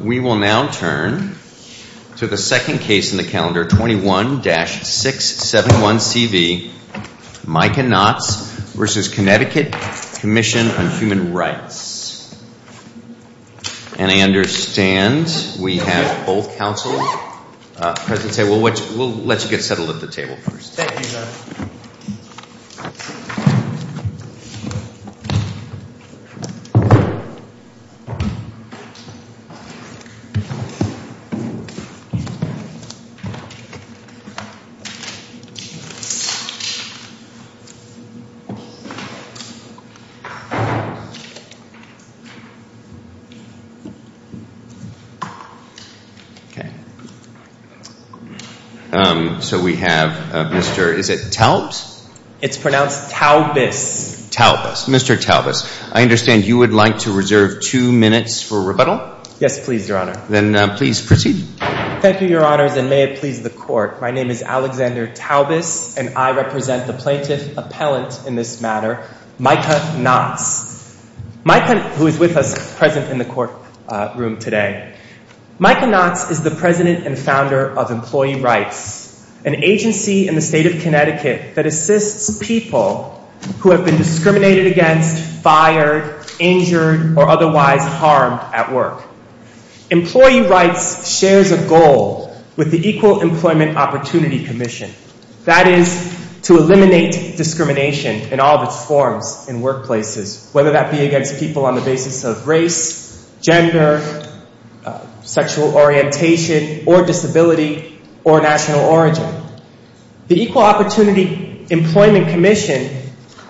We will now turn to the second case in the calendar, 21-671CV, Micah Notz v. Connecticut Commission on Human Rights. And I understand we have both counsel present. We'll let you get settled at the table first. Thank you, sir. Okay. So we have Mr., is it Taubes? It's pronounced Taubes. Taubes. Mr. Taubes, I understand you would like to reserve two minutes for rebuttal? Yes, please, Your Honor. Then please proceed. Thank you, Your Honors, and may it please the Court. My name is Alexander Taubes, and I represent the plaintiff appellant in this matter, Micah Notz, who is with us present in the courtroom today. Micah Notz is the president and founder of Employee Rights, an agency in the state of Connecticut that assists people who have been discriminated against, fired, injured, or otherwise harmed at work. Employee Rights shares a goal with the Equal Employment Opportunity Commission. That is to eliminate discrimination in all of its forms in workplaces, whether that be against people on the basis of race, gender, sexual orientation, or disability, or national origin. The Equal Opportunity Employment Commission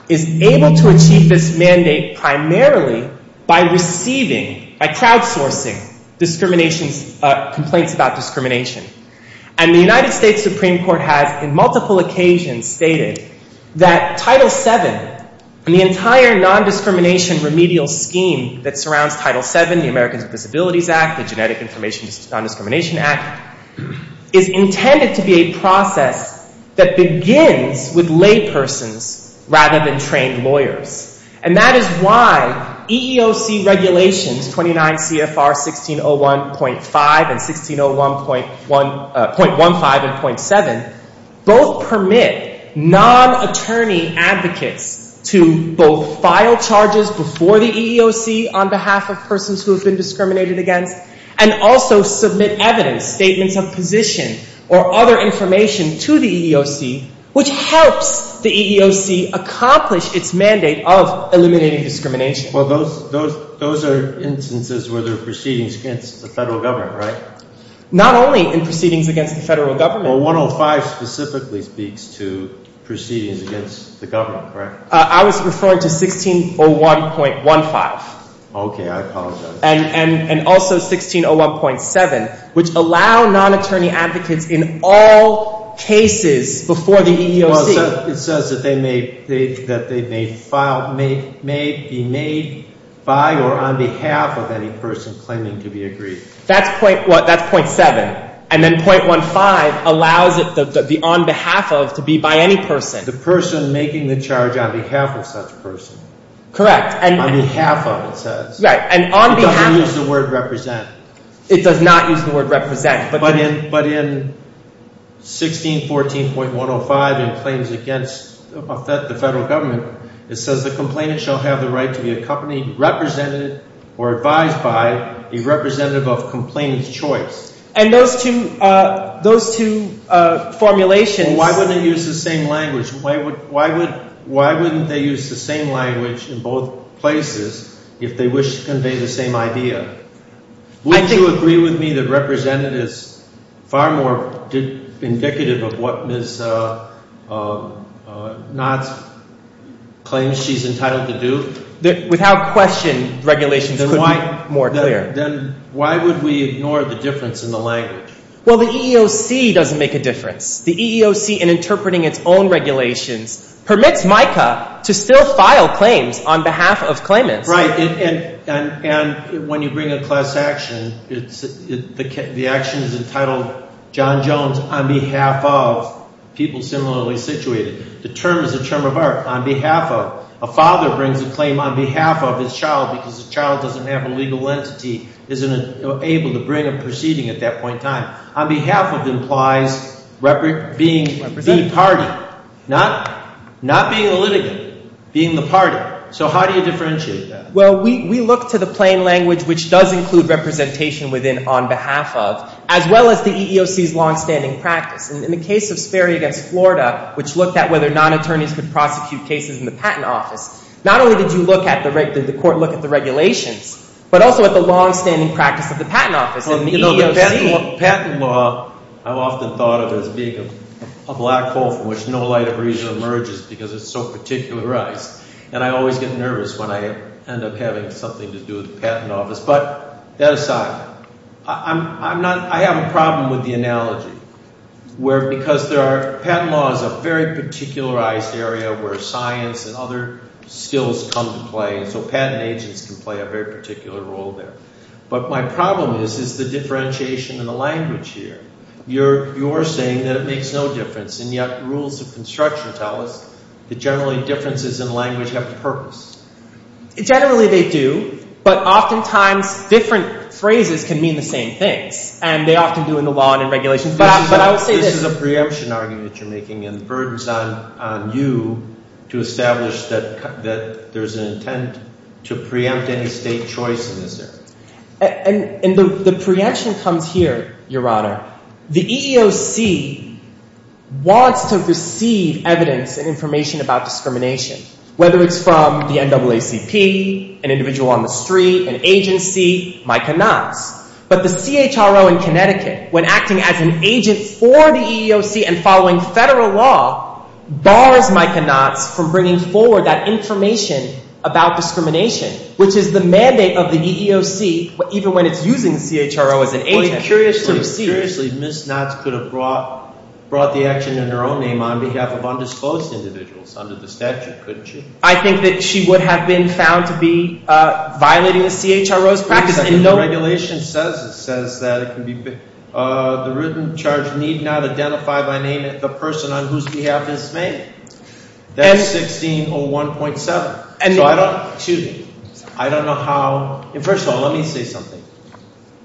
is able to achieve this mandate primarily by receiving, by crowdsourcing, discrimination, complaints about discrimination. And the United States Supreme Court has on multiple occasions stated that Title VII and the entire nondiscrimination remedial scheme that surrounds Title VII, the Americans with Disabilities Act, the Genetic Information Nondiscrimination Act, is intended to be a process that begins with laypersons rather than trained lawyers. And that is why EEOC regulations 29 CFR 1601.5 and 1601.15 and .7 both permit non-attorney advocates to both file charges before the EEOC on behalf of persons who have been discriminated against and also submit evidence, statements of position, or other information to the EEOC, which helps the EEOC accomplish its mandate of eliminating discrimination. Well, those are instances where there are proceedings against the federal government, right? Not only in proceedings against the federal government. Well, 105 specifically speaks to proceedings against the government, correct? I was referring to 1601.15. Okay, I apologize. And also 1601.7, which allow non-attorney advocates in all cases before the EEOC. Well, it says that they may be made by or on behalf of any person claiming to be aggrieved. That's .7. And then .15 allows the on behalf of to be by any person. The person making the charge on behalf of such a person. Correct. On behalf of, it says. Right, and on behalf. It doesn't use the word represent. It does not use the word represent. But in 1614.105 in claims against the federal government, it says the complainant shall have the right to be accompanied, represented, or advised by a representative of complainant's choice. And those two formulations. Why wouldn't they use the same language in both places if they wish to convey the same idea? Wouldn't you agree with me that represented is far more indicative of what Ms. Knott claims she's entitled to do? Without question, regulations could be more clear. Then why would we ignore the difference in the language? Well, the EEOC doesn't make a difference. The EEOC, in interpreting its own regulations, permits MICA to still file claims on behalf of claimants. Right. And when you bring a class action, the action is entitled John Jones on behalf of people similarly situated. The term is a term of art, on behalf of. A father brings a claim on behalf of his child because the child doesn't have a legal entity, isn't able to bring a proceeding at that point in time. On behalf of implies being the party, not being a litigant, being the party. So how do you differentiate that? Well, we look to the plain language, which does include representation within on behalf of, as well as the EEOC's longstanding practice. In the case of Sperry v. Florida, which looked at whether non-attorneys could prosecute cases in the patent office, not only did the court look at the regulations, but also at the longstanding practice of the patent office and the EEOC. The patent law, I've often thought of as being a black hole from which no light of reason emerges because it's so particularized. And I always get nervous when I end up having something to do with the patent office. But that aside, I'm not – I have a problem with the analogy where because there are – patent law is a very particularized area where science and other skills come to play. So patent agents can play a very particular role there. But my problem is, is the differentiation in the language here. You're saying that it makes no difference, and yet rules of construction tell us that generally differences in language have a purpose. Generally they do, but oftentimes different phrases can mean the same things. And they often do in the law and in regulations. But I would say this – This is a preemption argument you're making, and the burden's on you to establish that there's an intent to preempt any state choice in this area. And the preemption comes here, Your Honor. The EEOC wants to receive evidence and information about discrimination, whether it's from the NAACP, an individual on the street, an agency, Micah Knotts. But the CHRO in Connecticut, when acting as an agent for the EEOC and following federal law, bars Micah Knotts from bringing forward that information about discrimination, which is the mandate of the EEOC even when it's using the CHRO as an agent to receive. But seriously, Ms. Knotts could have brought the action in her own name on behalf of undisclosed individuals under the statute, couldn't she? I think that she would have been found to be violating the CHRO's practice in no – The regulation says that it can be – the written charge need not identify by name the person on whose behalf it's made. That's 1601.7. So I don't – First of all, let me say something.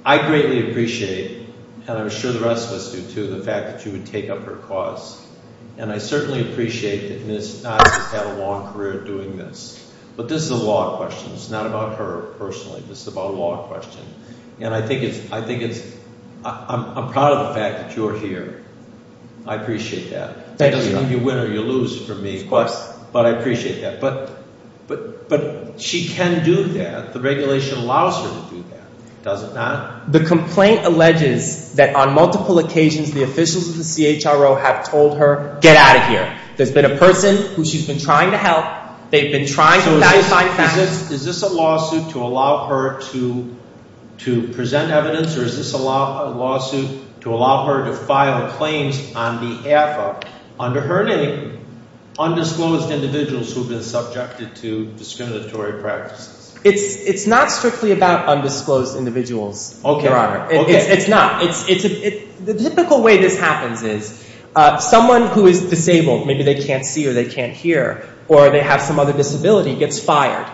I greatly appreciate, and I'm sure the rest of us do too, the fact that you would take up her cause. And I certainly appreciate that Ms. Knotts has had a long career doing this. But this is a law question. It's not about her personally. This is about a law question. And I think it's – I'm proud of the fact that you're here. I appreciate that. It doesn't mean you win or you lose for me. Of course. But I appreciate that. But she can do that. The regulation allows her to do that, does it not? The complaint alleges that on multiple occasions the officials of the CHRO have told her, get out of here. There's been a person who she's been trying to help. They've been trying to identify – So is this a lawsuit to allow her to present evidence? Or is this a lawsuit to allow her to file claims on behalf of, under her name, undisclosed individuals who have been subjected to discriminatory practices? It's not strictly about undisclosed individuals, Your Honor. It's not. The typical way this happens is someone who is disabled – maybe they can't see or they can't hear or they have some other disability – gets fired.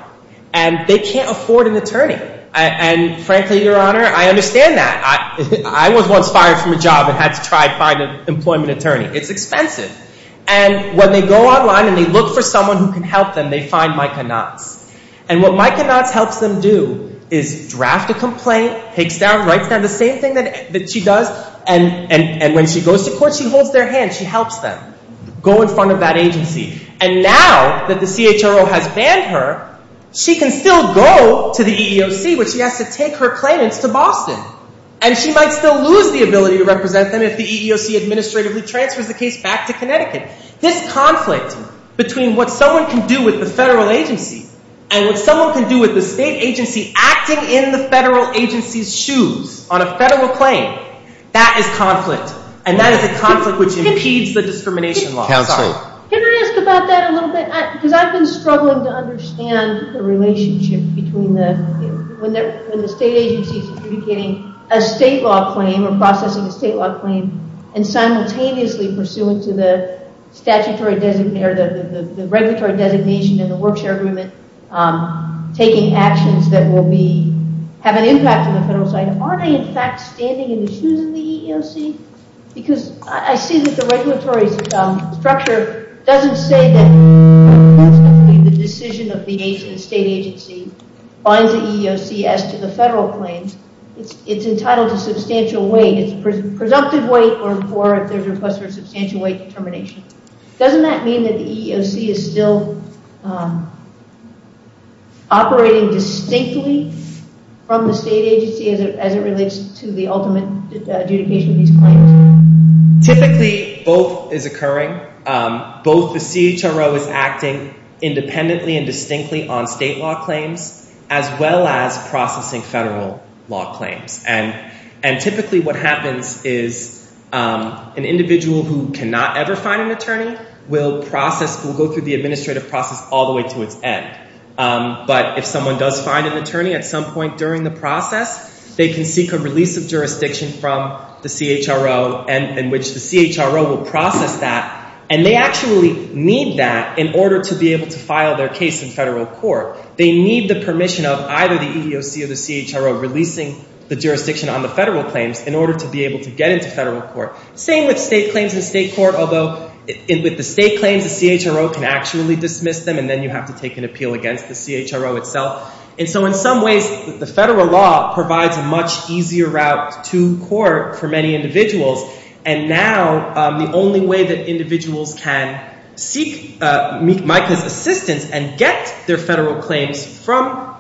And they can't afford an attorney. And frankly, Your Honor, I understand that. I was once fired from a job and had to try to find an employment attorney. It's expensive. And when they go online and they look for someone who can help them, they find Micah Knotts. And what Micah Knotts helps them do is draft a complaint, takes down, writes down the same thing that she does. And when she goes to court, she holds their hand. She helps them go in front of that agency. And now that the CHRO has banned her, she can still go to the EEOC, but she has to take her claimants to Boston. And she might still lose the ability to represent them if the EEOC administratively transfers the case back to Connecticut. This conflict between what someone can do with the federal agency and what someone can do with the state agency acting in the federal agency's shoes on a federal claim, that is conflict. And that is a conflict which impedes the discrimination law. Can I ask about that a little bit? Because I've been struggling to understand the relationship between when the state agency is adjudicating a state law claim or processing a state law claim and simultaneously pursuant to the statutory designation or the regulatory designation in the Work Share Agreement, taking actions that will have an impact on the federal side. Are they in fact standing in the shoes of the EEOC? Because I see that the regulatory structure doesn't say that the decision of the state agency binds the EEOC as to the federal claims. It's entitled to substantial weight. It's presumptive weight or there's a request for substantial weight determination. Doesn't that mean that the EEOC is still operating distinctly from the state agency as it relates to the ultimate adjudication of these claims? Typically both is occurring. Both the CHRO is acting independently and distinctly on state law claims as well as processing federal law claims. And typically what happens is an individual who cannot ever find an attorney will process, will go through the administrative process all the way to its end. But if someone does find an attorney at some point during the process, they can seek a release of jurisdiction from the CHRO in which the CHRO will process that. And they actually need that in order to be able to file their case in federal court. They need the permission of either the EEOC or the CHRO releasing the jurisdiction on the federal claims in order to be able to get into federal court. Same with state claims in state court, although with the state claims the CHRO can actually dismiss them and then you have to take an appeal against the CHRO itself. And so in some ways the federal law provides a much easier route to court for many individuals. And now the only way that individuals can seek MICA's assistance and get their federal claims from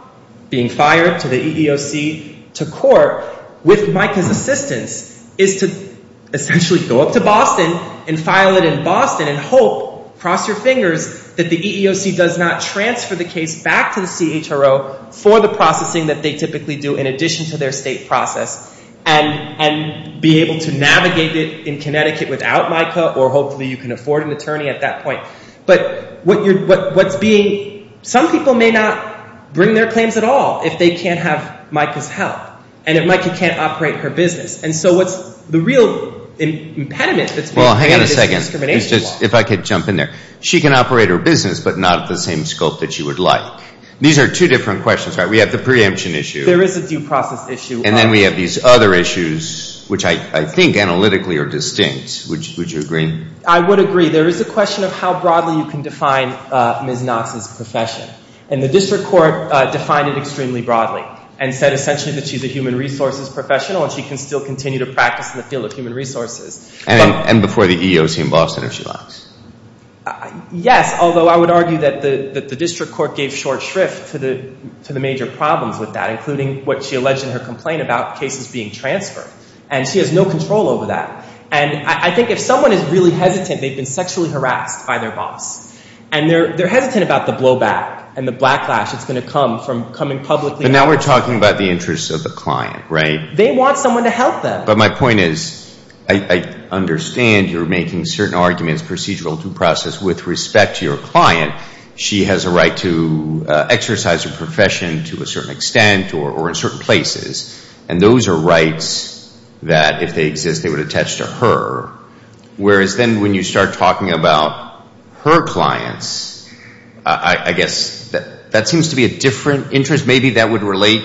being fired to the EEOC to court with MICA's assistance is to essentially go up to Boston and file it in Boston and hope, cross your fingers, that the EEOC does not transfer the case back to the CHRO for the processing that they typically do in addition to their state process and be able to navigate it in Connecticut without MICA or hopefully you can afford an attorney at that point. But what's being – some people may not bring their claims at all if they can't have MICA's help and if MICA can't operate her business. And so what's the real impediment that's being created is discrimination law. Well, hang on a second. If I could jump in there. She can operate her business but not at the same scope that she would like. These are two different questions, right? We have the preemption issue. There is a due process issue. And then we have these other issues which I think analytically are distinct. Would you agree? I would agree. There is a question of how broadly you can define Ms. Knox's profession. And the district court defined it extremely broadly and said essentially that she's a human resources professional and she can still continue to practice in the field of human resources. And before the EEOC in Boston if she likes. Yes, although I would argue that the district court gave short shrift to the major problems with that, including what she alleged in her complaint about cases being transferred. And she has no control over that. And I think if someone is really hesitant, they've been sexually harassed by their boss, and they're hesitant about the blowback and the backlash that's going to come from coming publicly. But now we're talking about the interests of the client, right? They want someone to help them. But my point is I understand you're making certain arguments, procedural due process, with respect to your client. She has a right to exercise her profession to a certain extent or in certain places. And those are rights that if they exist they would attach to her. Whereas then when you start talking about her clients, I guess that seems to be a different interest. Maybe that would relate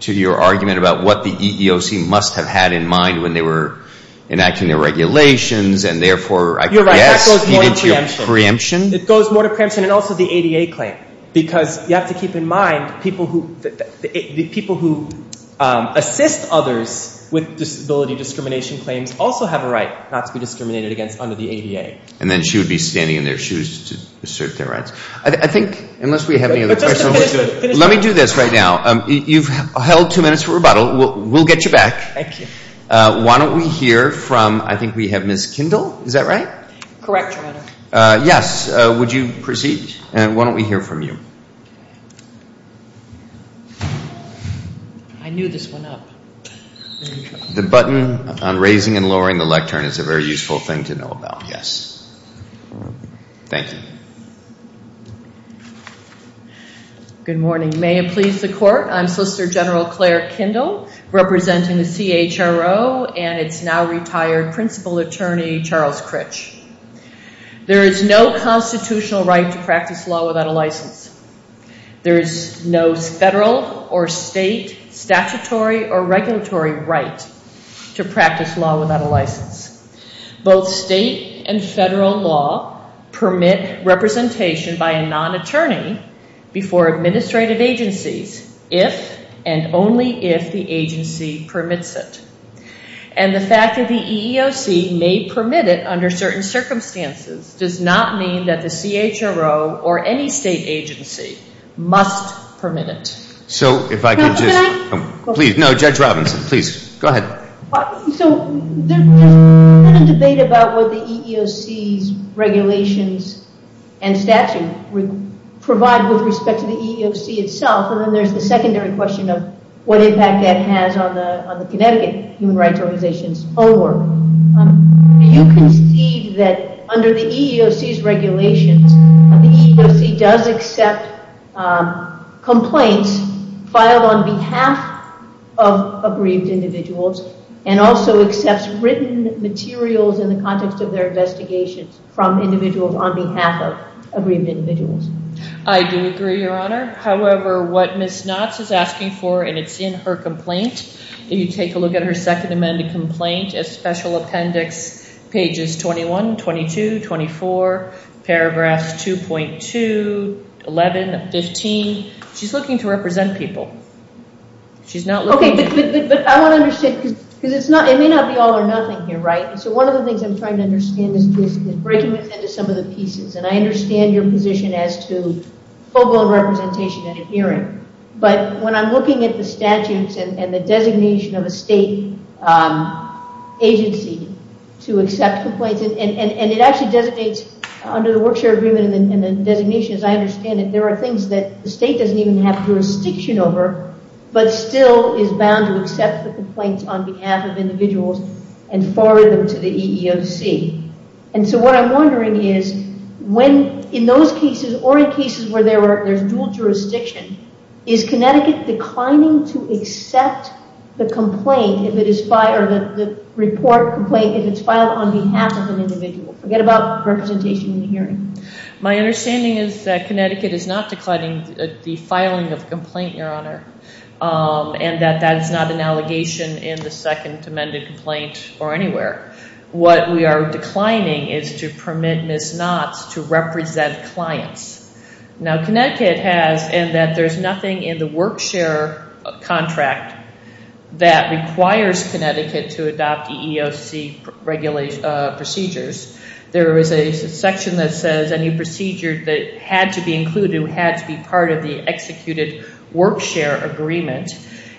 to your argument about what the EEOC must have had in mind when they were enacting their regulations. And, therefore, I guess it goes more to preemption. It goes more to preemption and also the ADA claim. Because you have to keep in mind the people who assist others with disability discrimination claims also have a right not to be discriminated against under the ADA. And then she would be standing in their shoes to assert their rights. I think unless we have any other questions. Let me do this right now. You've held two minutes for rebuttal. We'll get you back. Thank you. Why don't we hear from I think we have Ms. Kindle. Is that right? Correct, Your Honor. Yes. Would you proceed? Why don't we hear from you? I knew this went up. The button on raising and lowering the lectern is a very useful thing to know about, yes. Thank you. Good morning. May it please the Court. I'm Solicitor General Claire Kindle, representing the CHRO and its now-retired principal attorney, Charles Critch. There is no constitutional right to practice law without a license. There is no federal or state statutory or regulatory right to practice law without a license. Both state and federal law permit representation by a non-attorney before administrative agencies if and only if the agency permits it. And the fact that the EEOC may permit it under certain circumstances does not mean that the CHRO or any state agency must permit it. So if I could just... Now, can I... Please. No, Judge Robinson. Please. Go ahead. So there's been a debate about what the EEOC's regulations and statute provide with respect to the EEOC itself, and then there's the secondary question of what impact that has on the Connecticut Human Rights Organization's own work. Do you concede that under the EEOC's regulations, the EEOC does accept complaints filed on behalf of aggrieved individuals and also accepts written materials in the context of their investigations from individuals on behalf of aggrieved individuals? I do agree, Your Honor. However, what Ms. Knotts is asking for, and it's in her complaint, if you take a look at her Second Amendment complaint, Special Appendix pages 21, 22, 24, paragraphs 2.2, 11, 15, she's looking to represent people. She's not looking... Okay, but I want to understand, because it may not be all or nothing here, right? So one of the things I'm trying to understand is breaking it into some of the pieces, and I understand your position as to focal representation and adhering, but when I'm looking at the statutes and the designation of a state agency to accept complaints, and it actually designates under the Work Share Agreement and the designation, as I understand it, there are things that the state doesn't even have jurisdiction over, but still is bound to accept the complaints on behalf of individuals and forward them to the EEOC. And so what I'm wondering is, in those cases or in cases where there's dual jurisdiction, is Connecticut declining to accept the complaint, or the report complaint, if it's filed on behalf of an individual? Forget about representation and adhering. My understanding is that Connecticut is not declining the filing of the complaint, Your Honor, and that that is not an allegation in the Second Amendment complaint or anywhere. What we are declining is to permit misnots to represent clients. Now, Connecticut has, and that there's nothing in the Work Share Contract that requires Connecticut to adopt EEOC procedures. There is a section that says any procedure that had to be included had to be part of the executed Work Share Agreement,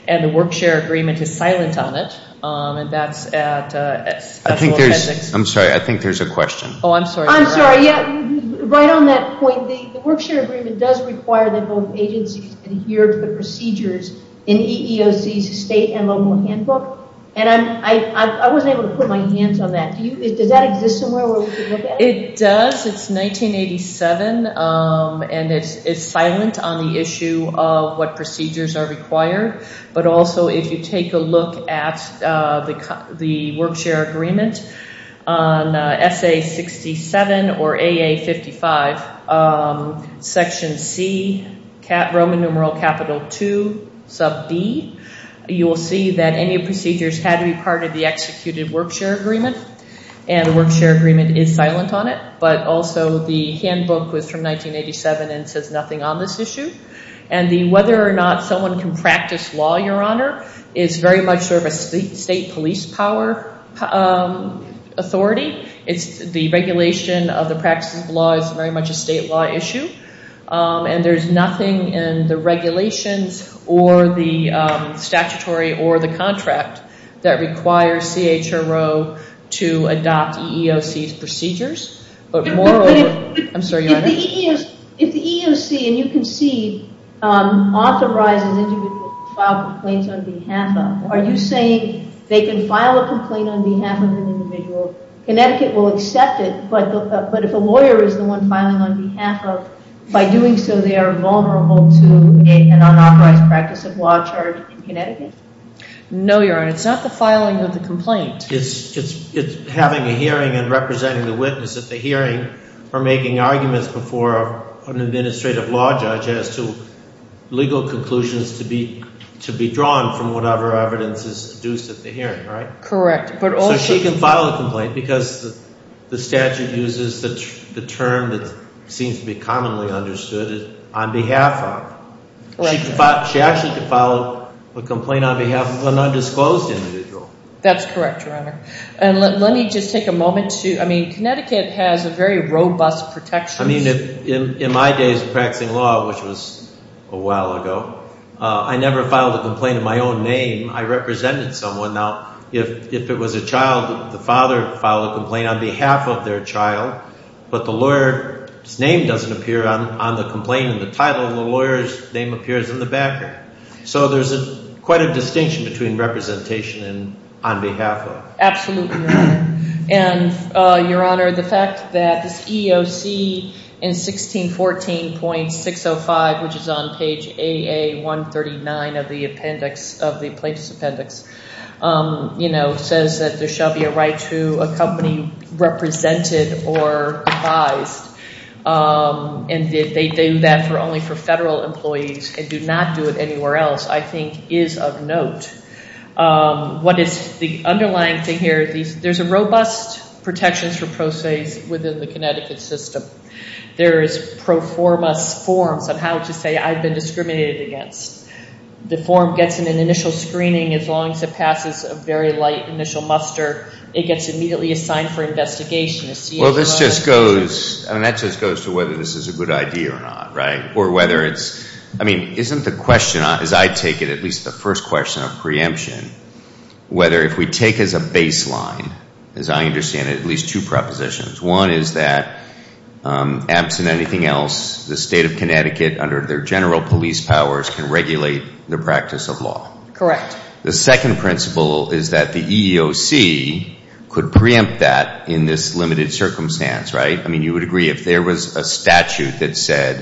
and the Work Share Agreement is silent on it, and that's at the appendix. I'm sorry, I think there's a question. Oh, I'm sorry. I'm sorry. Right on that point, the Work Share Agreement does require that both agencies adhere to the procedures in EEOC's state and local handbook, and I wasn't able to put my hands on that. Does that exist somewhere where we can look at it? It does. It's 1987, and it's silent on the issue of what procedures are required, but also if you take a look at the Work Share Agreement on SA-67 or AA-55, section C, Roman numeral capital II, sub B, you will see that any procedures had to be part of the executed Work Share Agreement, and the Work Share Agreement is silent on it, but also the handbook was from 1987 and says nothing on this issue, and the whether or not someone can practice law, Your Honor, is very much sort of a state police power authority. The regulation of the practice of law is very much a state law issue, and there's nothing in the regulations or the statutory or the contract If the EEOC, and you can see, authorizes individuals to file complaints on behalf of, are you saying they can file a complaint on behalf of an individual, Connecticut will accept it, but if a lawyer is the one filing on behalf of, by doing so they are vulnerable to an unauthorized practice of law charge in Connecticut? No, Your Honor. It's not the filing of the complaint. It's having a hearing and representing the witness at the hearing or making arguments before an administrative law judge as to legal conclusions to be drawn from whatever evidence is deduced at the hearing, right? Correct. So she can file a complaint because the statute uses the term that seems to be commonly understood, on behalf of. She actually could file a complaint on behalf of an undisclosed individual. That's correct, Your Honor. And let me just take a moment to, I mean, Connecticut has a very robust protection system. I mean, in my days of practicing law, which was a while ago, I never filed a complaint in my own name. I represented someone. Now, if it was a child, the father filed a complaint on behalf of their child, but the lawyer's name doesn't appear on the complaint in the title, and the lawyer's name appears in the background. So there's quite a distinction between representation and on behalf of. Absolutely, Your Honor. And, Your Honor, the fact that this EOC in 1614.605, which is on page AA139 of the plaintiff's appendix, says that there shall be a right to accompany represented or advised, and that they do that only for federal employees and do not do it anywhere else, I think is of note. What is the underlying thing here? There's a robust protections for pro se within the Connecticut system. There is pro formus forms of how to say I've been discriminated against. The form gets an initial screening as long as it passes a very light initial muster. It gets immediately assigned for investigation. Well, this just goes, I mean, that just goes to whether this is a good idea or not, right? Or whether it's, I mean, isn't the question, as I take it, at least the first question of preemption, whether if we take as a baseline, as I understand it, at least two propositions. One is that, absent anything else, the state of Connecticut, under their general police powers, can regulate the practice of law. Correct. The second principle is that the EEOC could preempt that in this limited circumstance, right? I mean, you would agree if there was a statute that said,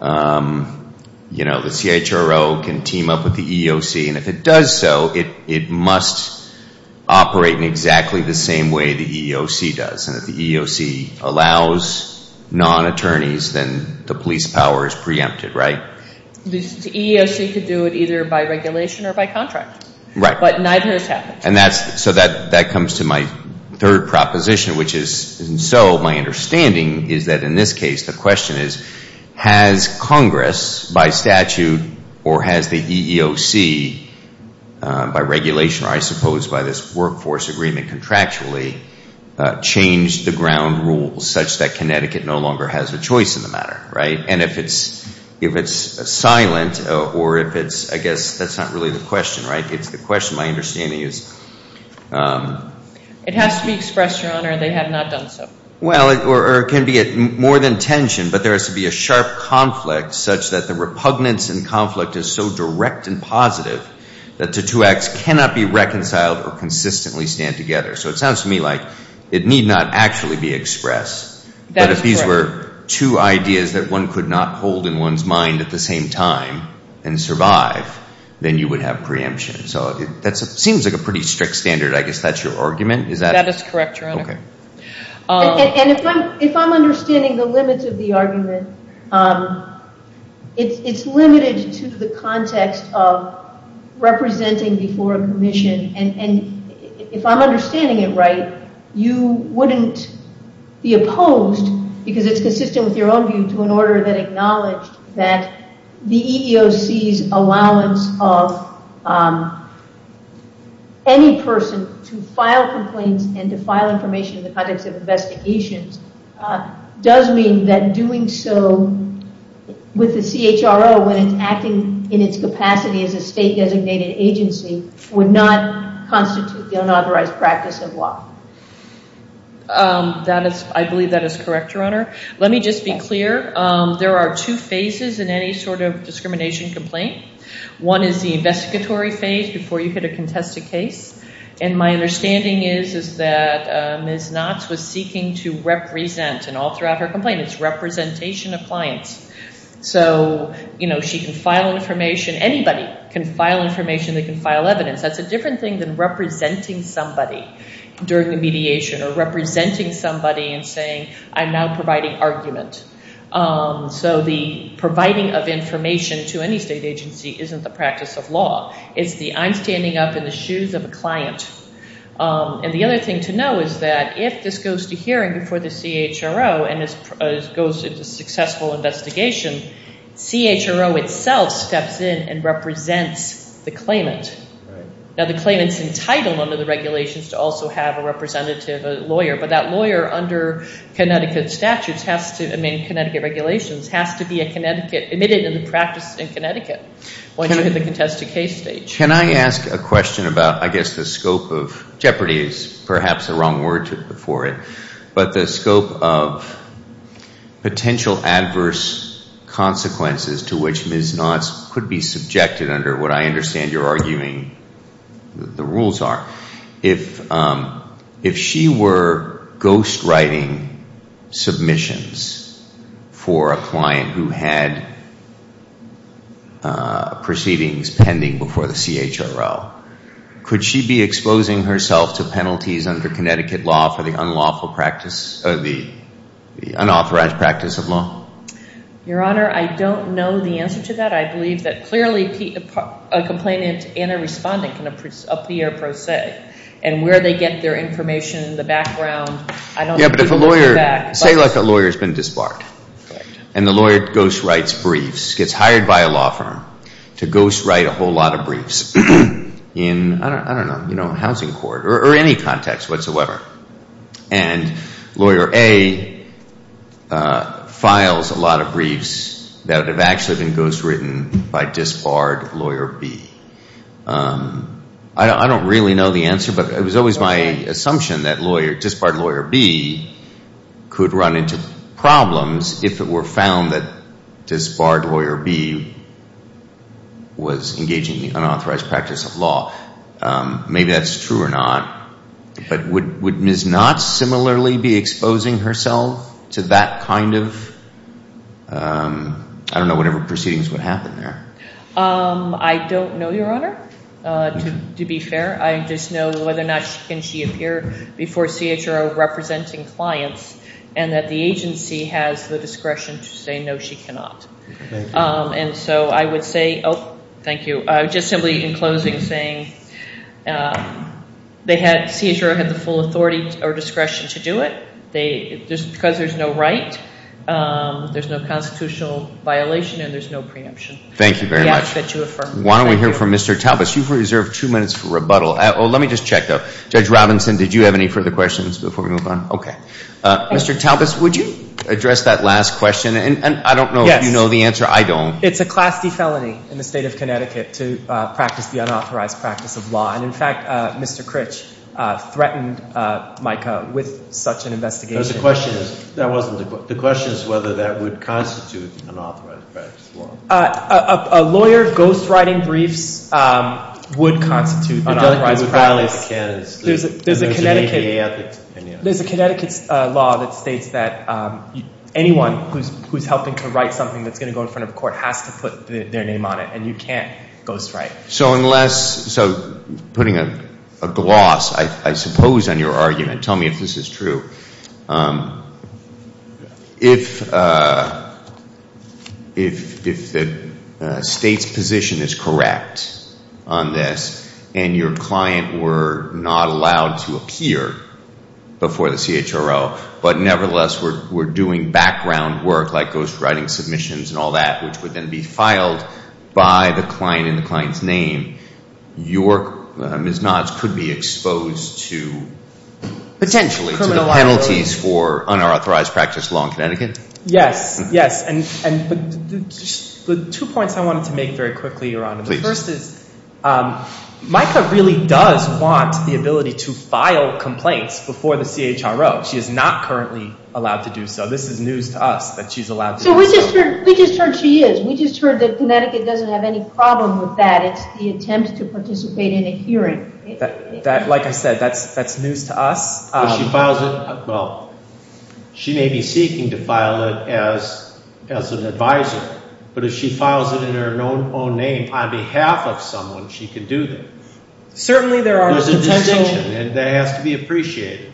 you know, the CHRO can team up with the EEOC, and if it does so, it must operate in exactly the same way the EEOC does. And if the EEOC allows non-attorneys, then the police power is preempted, right? The EEOC could do it either by regulation or by contract. Right. But neither has happened. And that's, so that comes to my third proposition, which is, and so my understanding is that in this case, the question is, has Congress, by statute, or has the EEOC, by regulation, or I suppose by this workforce agreement contractually, changed the ground rules such that Connecticut no longer has a choice in the matter, right? And if it's silent or if it's, I guess that's not really the question, right? It's the question my understanding is. It has to be expressed, Your Honor, and they have not done so. Well, or it can be more than tension, but there has to be a sharp conflict such that the repugnance in conflict is so direct and positive that the two acts cannot be reconciled or consistently stand together. So it sounds to me like it need not actually be expressed. That is correct. If there are two ideas that one could not hold in one's mind at the same time and survive, then you would have preemption. So that seems like a pretty strict standard. I guess that's your argument? That is correct, Your Honor. Okay. And if I'm understanding the limits of the argument, it's limited to the context of representing before a commission. And if I'm understanding it right, you wouldn't be opposed because it's consistent with your own view to an order that acknowledged that the EEOC's allowance of any person to file complaints and to file information in the context of investigations does mean that doing so with the CHRO when it's acting in its capacity as a state-designated agency would not constitute the unauthorized practice of law. I believe that is correct, Your Honor. Let me just be clear. There are two phases in any sort of discrimination complaint. One is the investigatory phase before you hit a contested case. And my understanding is that Ms. Knotts was seeking to represent and all throughout her complaint it's representation of clients. So she can file information. Anybody can file information. They can file evidence. That's a different thing than representing somebody during the mediation or representing somebody and saying I'm now providing argument. So the providing of information to any state agency isn't the practice of law. It's the I'm standing up in the shoes of a client. And the other thing to know is that if this goes to hearing before the CHRO and it goes into successful investigation, CHRO itself steps in and represents the claimant. Now the claimant's entitled under the regulations to also have a representative, a lawyer, but that lawyer under Connecticut statutes has to, I mean Connecticut regulations, has to be admitted into the practice in Connecticut when you hit the contested case stage. Can I ask a question about, I guess, the scope of jeopardy is perhaps the wrong word for it, but the scope of potential adverse consequences to which Ms. Knotts could be subjected under what I understand you're arguing the rules are. If she were ghostwriting submissions for a client who had proceedings pending before the CHRO, could she be exposing herself to penalties under Connecticut law for the unlawful practice, the unauthorized practice of law? Your Honor, I don't know the answer to that. I believe that clearly a complainant and a respondent can appear pro se and where they get their information, the background, I don't know. Yeah, but if a lawyer, say like a lawyer's been disbarred and the lawyer ghostwrites briefs, gets hired by a law firm to ghostwrite a whole lot of briefs, in, I don't know, housing court or any context whatsoever, and lawyer A files a lot of briefs that have actually been ghostwritten by disbarred lawyer B. I don't really know the answer, but it was always my assumption that disbarred lawyer B could run into problems if it were found that disbarred lawyer B was engaging in unauthorized practice of law. Maybe that's true or not, but would Ms. Knott similarly be exposing herself to that kind of, I don't know, whatever proceedings would happen there? I don't know, Your Honor, to be fair. I just know whether or not can she appear before CHRO representing clients and that the agency has the discretion to say no, she cannot. And so I would say, oh, thank you, just simply in closing saying CHRO had the full authority or discretion to do it. Just because there's no right, there's no constitutional violation, and there's no preemption. Thank you very much. Why don't we hear from Mr. Talbots. You've reserved two minutes for rebuttal. Let me just check, though. Judge Robinson, did you have any further questions before we move on? Okay. Mr. Talbots, would you address that last question? And I don't know if you know the answer. I don't. It's a Class D felony in the State of Connecticut to practice the unauthorized practice of law. And, in fact, Mr. Critch threatened Micah with such an investigation. The question is whether that would constitute unauthorized practice of law. A lawyer ghostwriting briefs would constitute unauthorized practice. There's a Connecticut law that states that anyone who's helping to write something that's going to go in front of a court has to put their name on it, and you can't ghostwrite. So putting a gloss, I suppose, on your argument, tell me if this is true. If the State's position is correct on this and your client were not allowed to appear before the CHRO, but nevertheless were doing background work like ghostwriting submissions and all that, which would then be filed by the client in the client's name, your Ms. Knotts could be exposed to potentially penalties for unauthorized practice of law in Connecticut? Yes, yes. And the two points I wanted to make very quickly, Your Honor. The first is Micah really does want the ability to file complaints before the CHRO. She is not currently allowed to do so. This is news to us that she's allowed to do so. So we just heard she is. We just heard that Connecticut doesn't have any problem with that. That's the attempt to participate in a hearing. Like I said, that's news to us. If she files it, well, she may be seeking to file it as an advisor, but if she files it in her own name on behalf of someone, she can do that. Certainly there are potential— There's a distinction, and that has to be appreciated.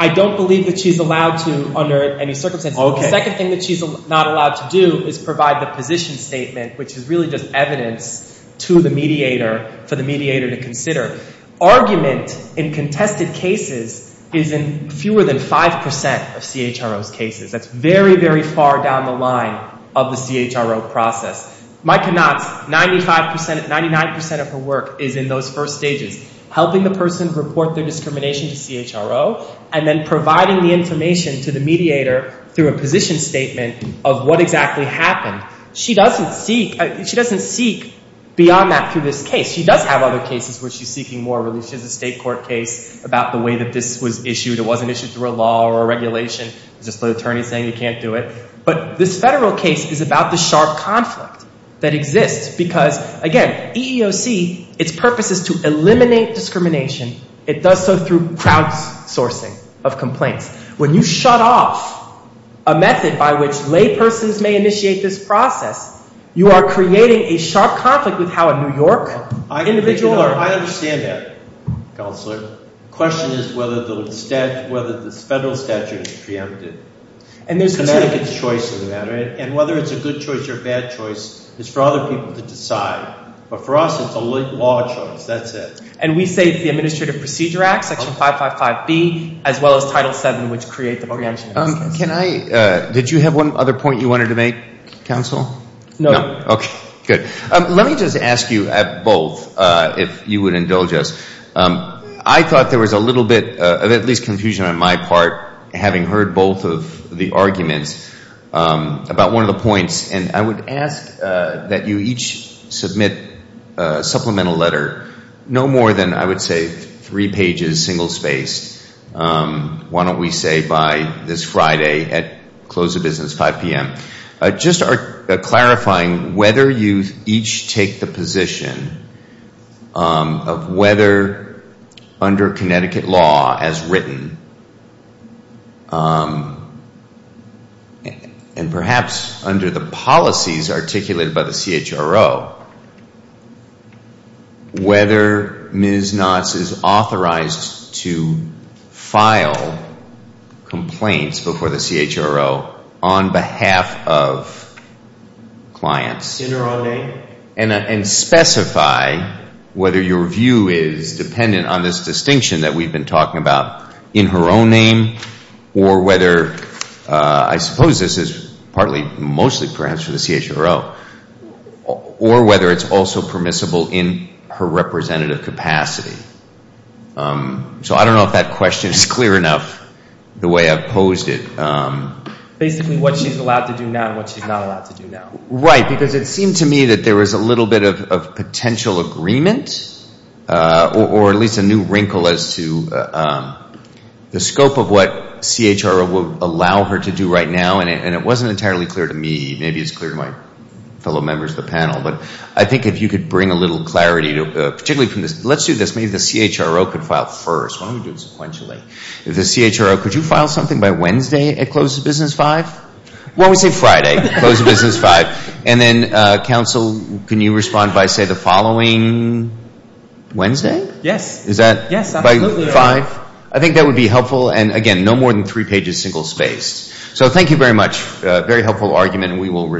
I don't believe that she's allowed to under any circumstances. Okay. The second thing that she's not allowed to do is provide the position statement, which is really just evidence to the mediator for the mediator to consider. Argument in contested cases is in fewer than 5% of CHRO's cases. That's very, very far down the line of the CHRO process. Micah Knotts, 95%—99% of her work is in those first stages, helping the person report their discrimination to CHRO and then providing the information to the mediator through a position statement of what exactly happened. She doesn't seek beyond that through this case. She does have other cases where she's seeking more. She has a state court case about the way that this was issued. It wasn't issued through a law or a regulation. It's just the attorney saying you can't do it. But this federal case is about the sharp conflict that exists because, again, EEOC, its purpose is to eliminate discrimination. It does so through crowdsourcing of complaints. When you shut off a method by which laypersons may initiate this process, you are creating a sharp conflict with how a New York individual— I understand that, Counselor. The question is whether the federal statute is preempted. Connecticut's choice in that. And whether it's a good choice or a bad choice is for other people to decide. But for us, it's a law choice. That's it. And we say it's the Administrative Procedure Act, Section 555B, as well as Title VII, which create the preemption process. Can I—did you have one other point you wanted to make, Counsel? No. Okay, good. Let me just ask you both if you would indulge us. I thought there was a little bit of at least confusion on my part, having heard both of the arguments about one of the points. And I would ask that you each submit a supplemental letter, no more than, I would say, three pages, single-spaced. Why don't we say by this Friday at close of business, 5 p.m. Just clarifying whether you each take the position of whether, under Connecticut law as written, and perhaps under the policies articulated by the CHRO, whether Ms. Knotts is authorized to file complaints before the CHRO on behalf of clients. In or on name? And specify whether your view is dependent on this distinction that we've been talking about, in her own name, or whether—I suppose this is partly, mostly perhaps for the CHRO— or whether it's also permissible in her representative capacity. So I don't know if that question is clear enough, the way I've posed it. Basically what she's allowed to do now and what she's not allowed to do now. Right, because it seemed to me that there was a little bit of potential agreement, or at least a new wrinkle as to the scope of what CHRO would allow her to do right now. And it wasn't entirely clear to me. Maybe it's clear to my fellow members of the panel. But I think if you could bring a little clarity, particularly from this—let's do this. Maybe the CHRO could file first. Why don't we do it sequentially? The CHRO, could you file something by Wednesday at close of business, 5? Why don't we say Friday, close of business, 5? And then, counsel, can you respond by, say, the following Wednesday? Yes. Is that by 5? Yes, absolutely. I think that would be helpful. And, again, no more than three pages, single spaced. So thank you very much. Very helpful argument, and we will resume.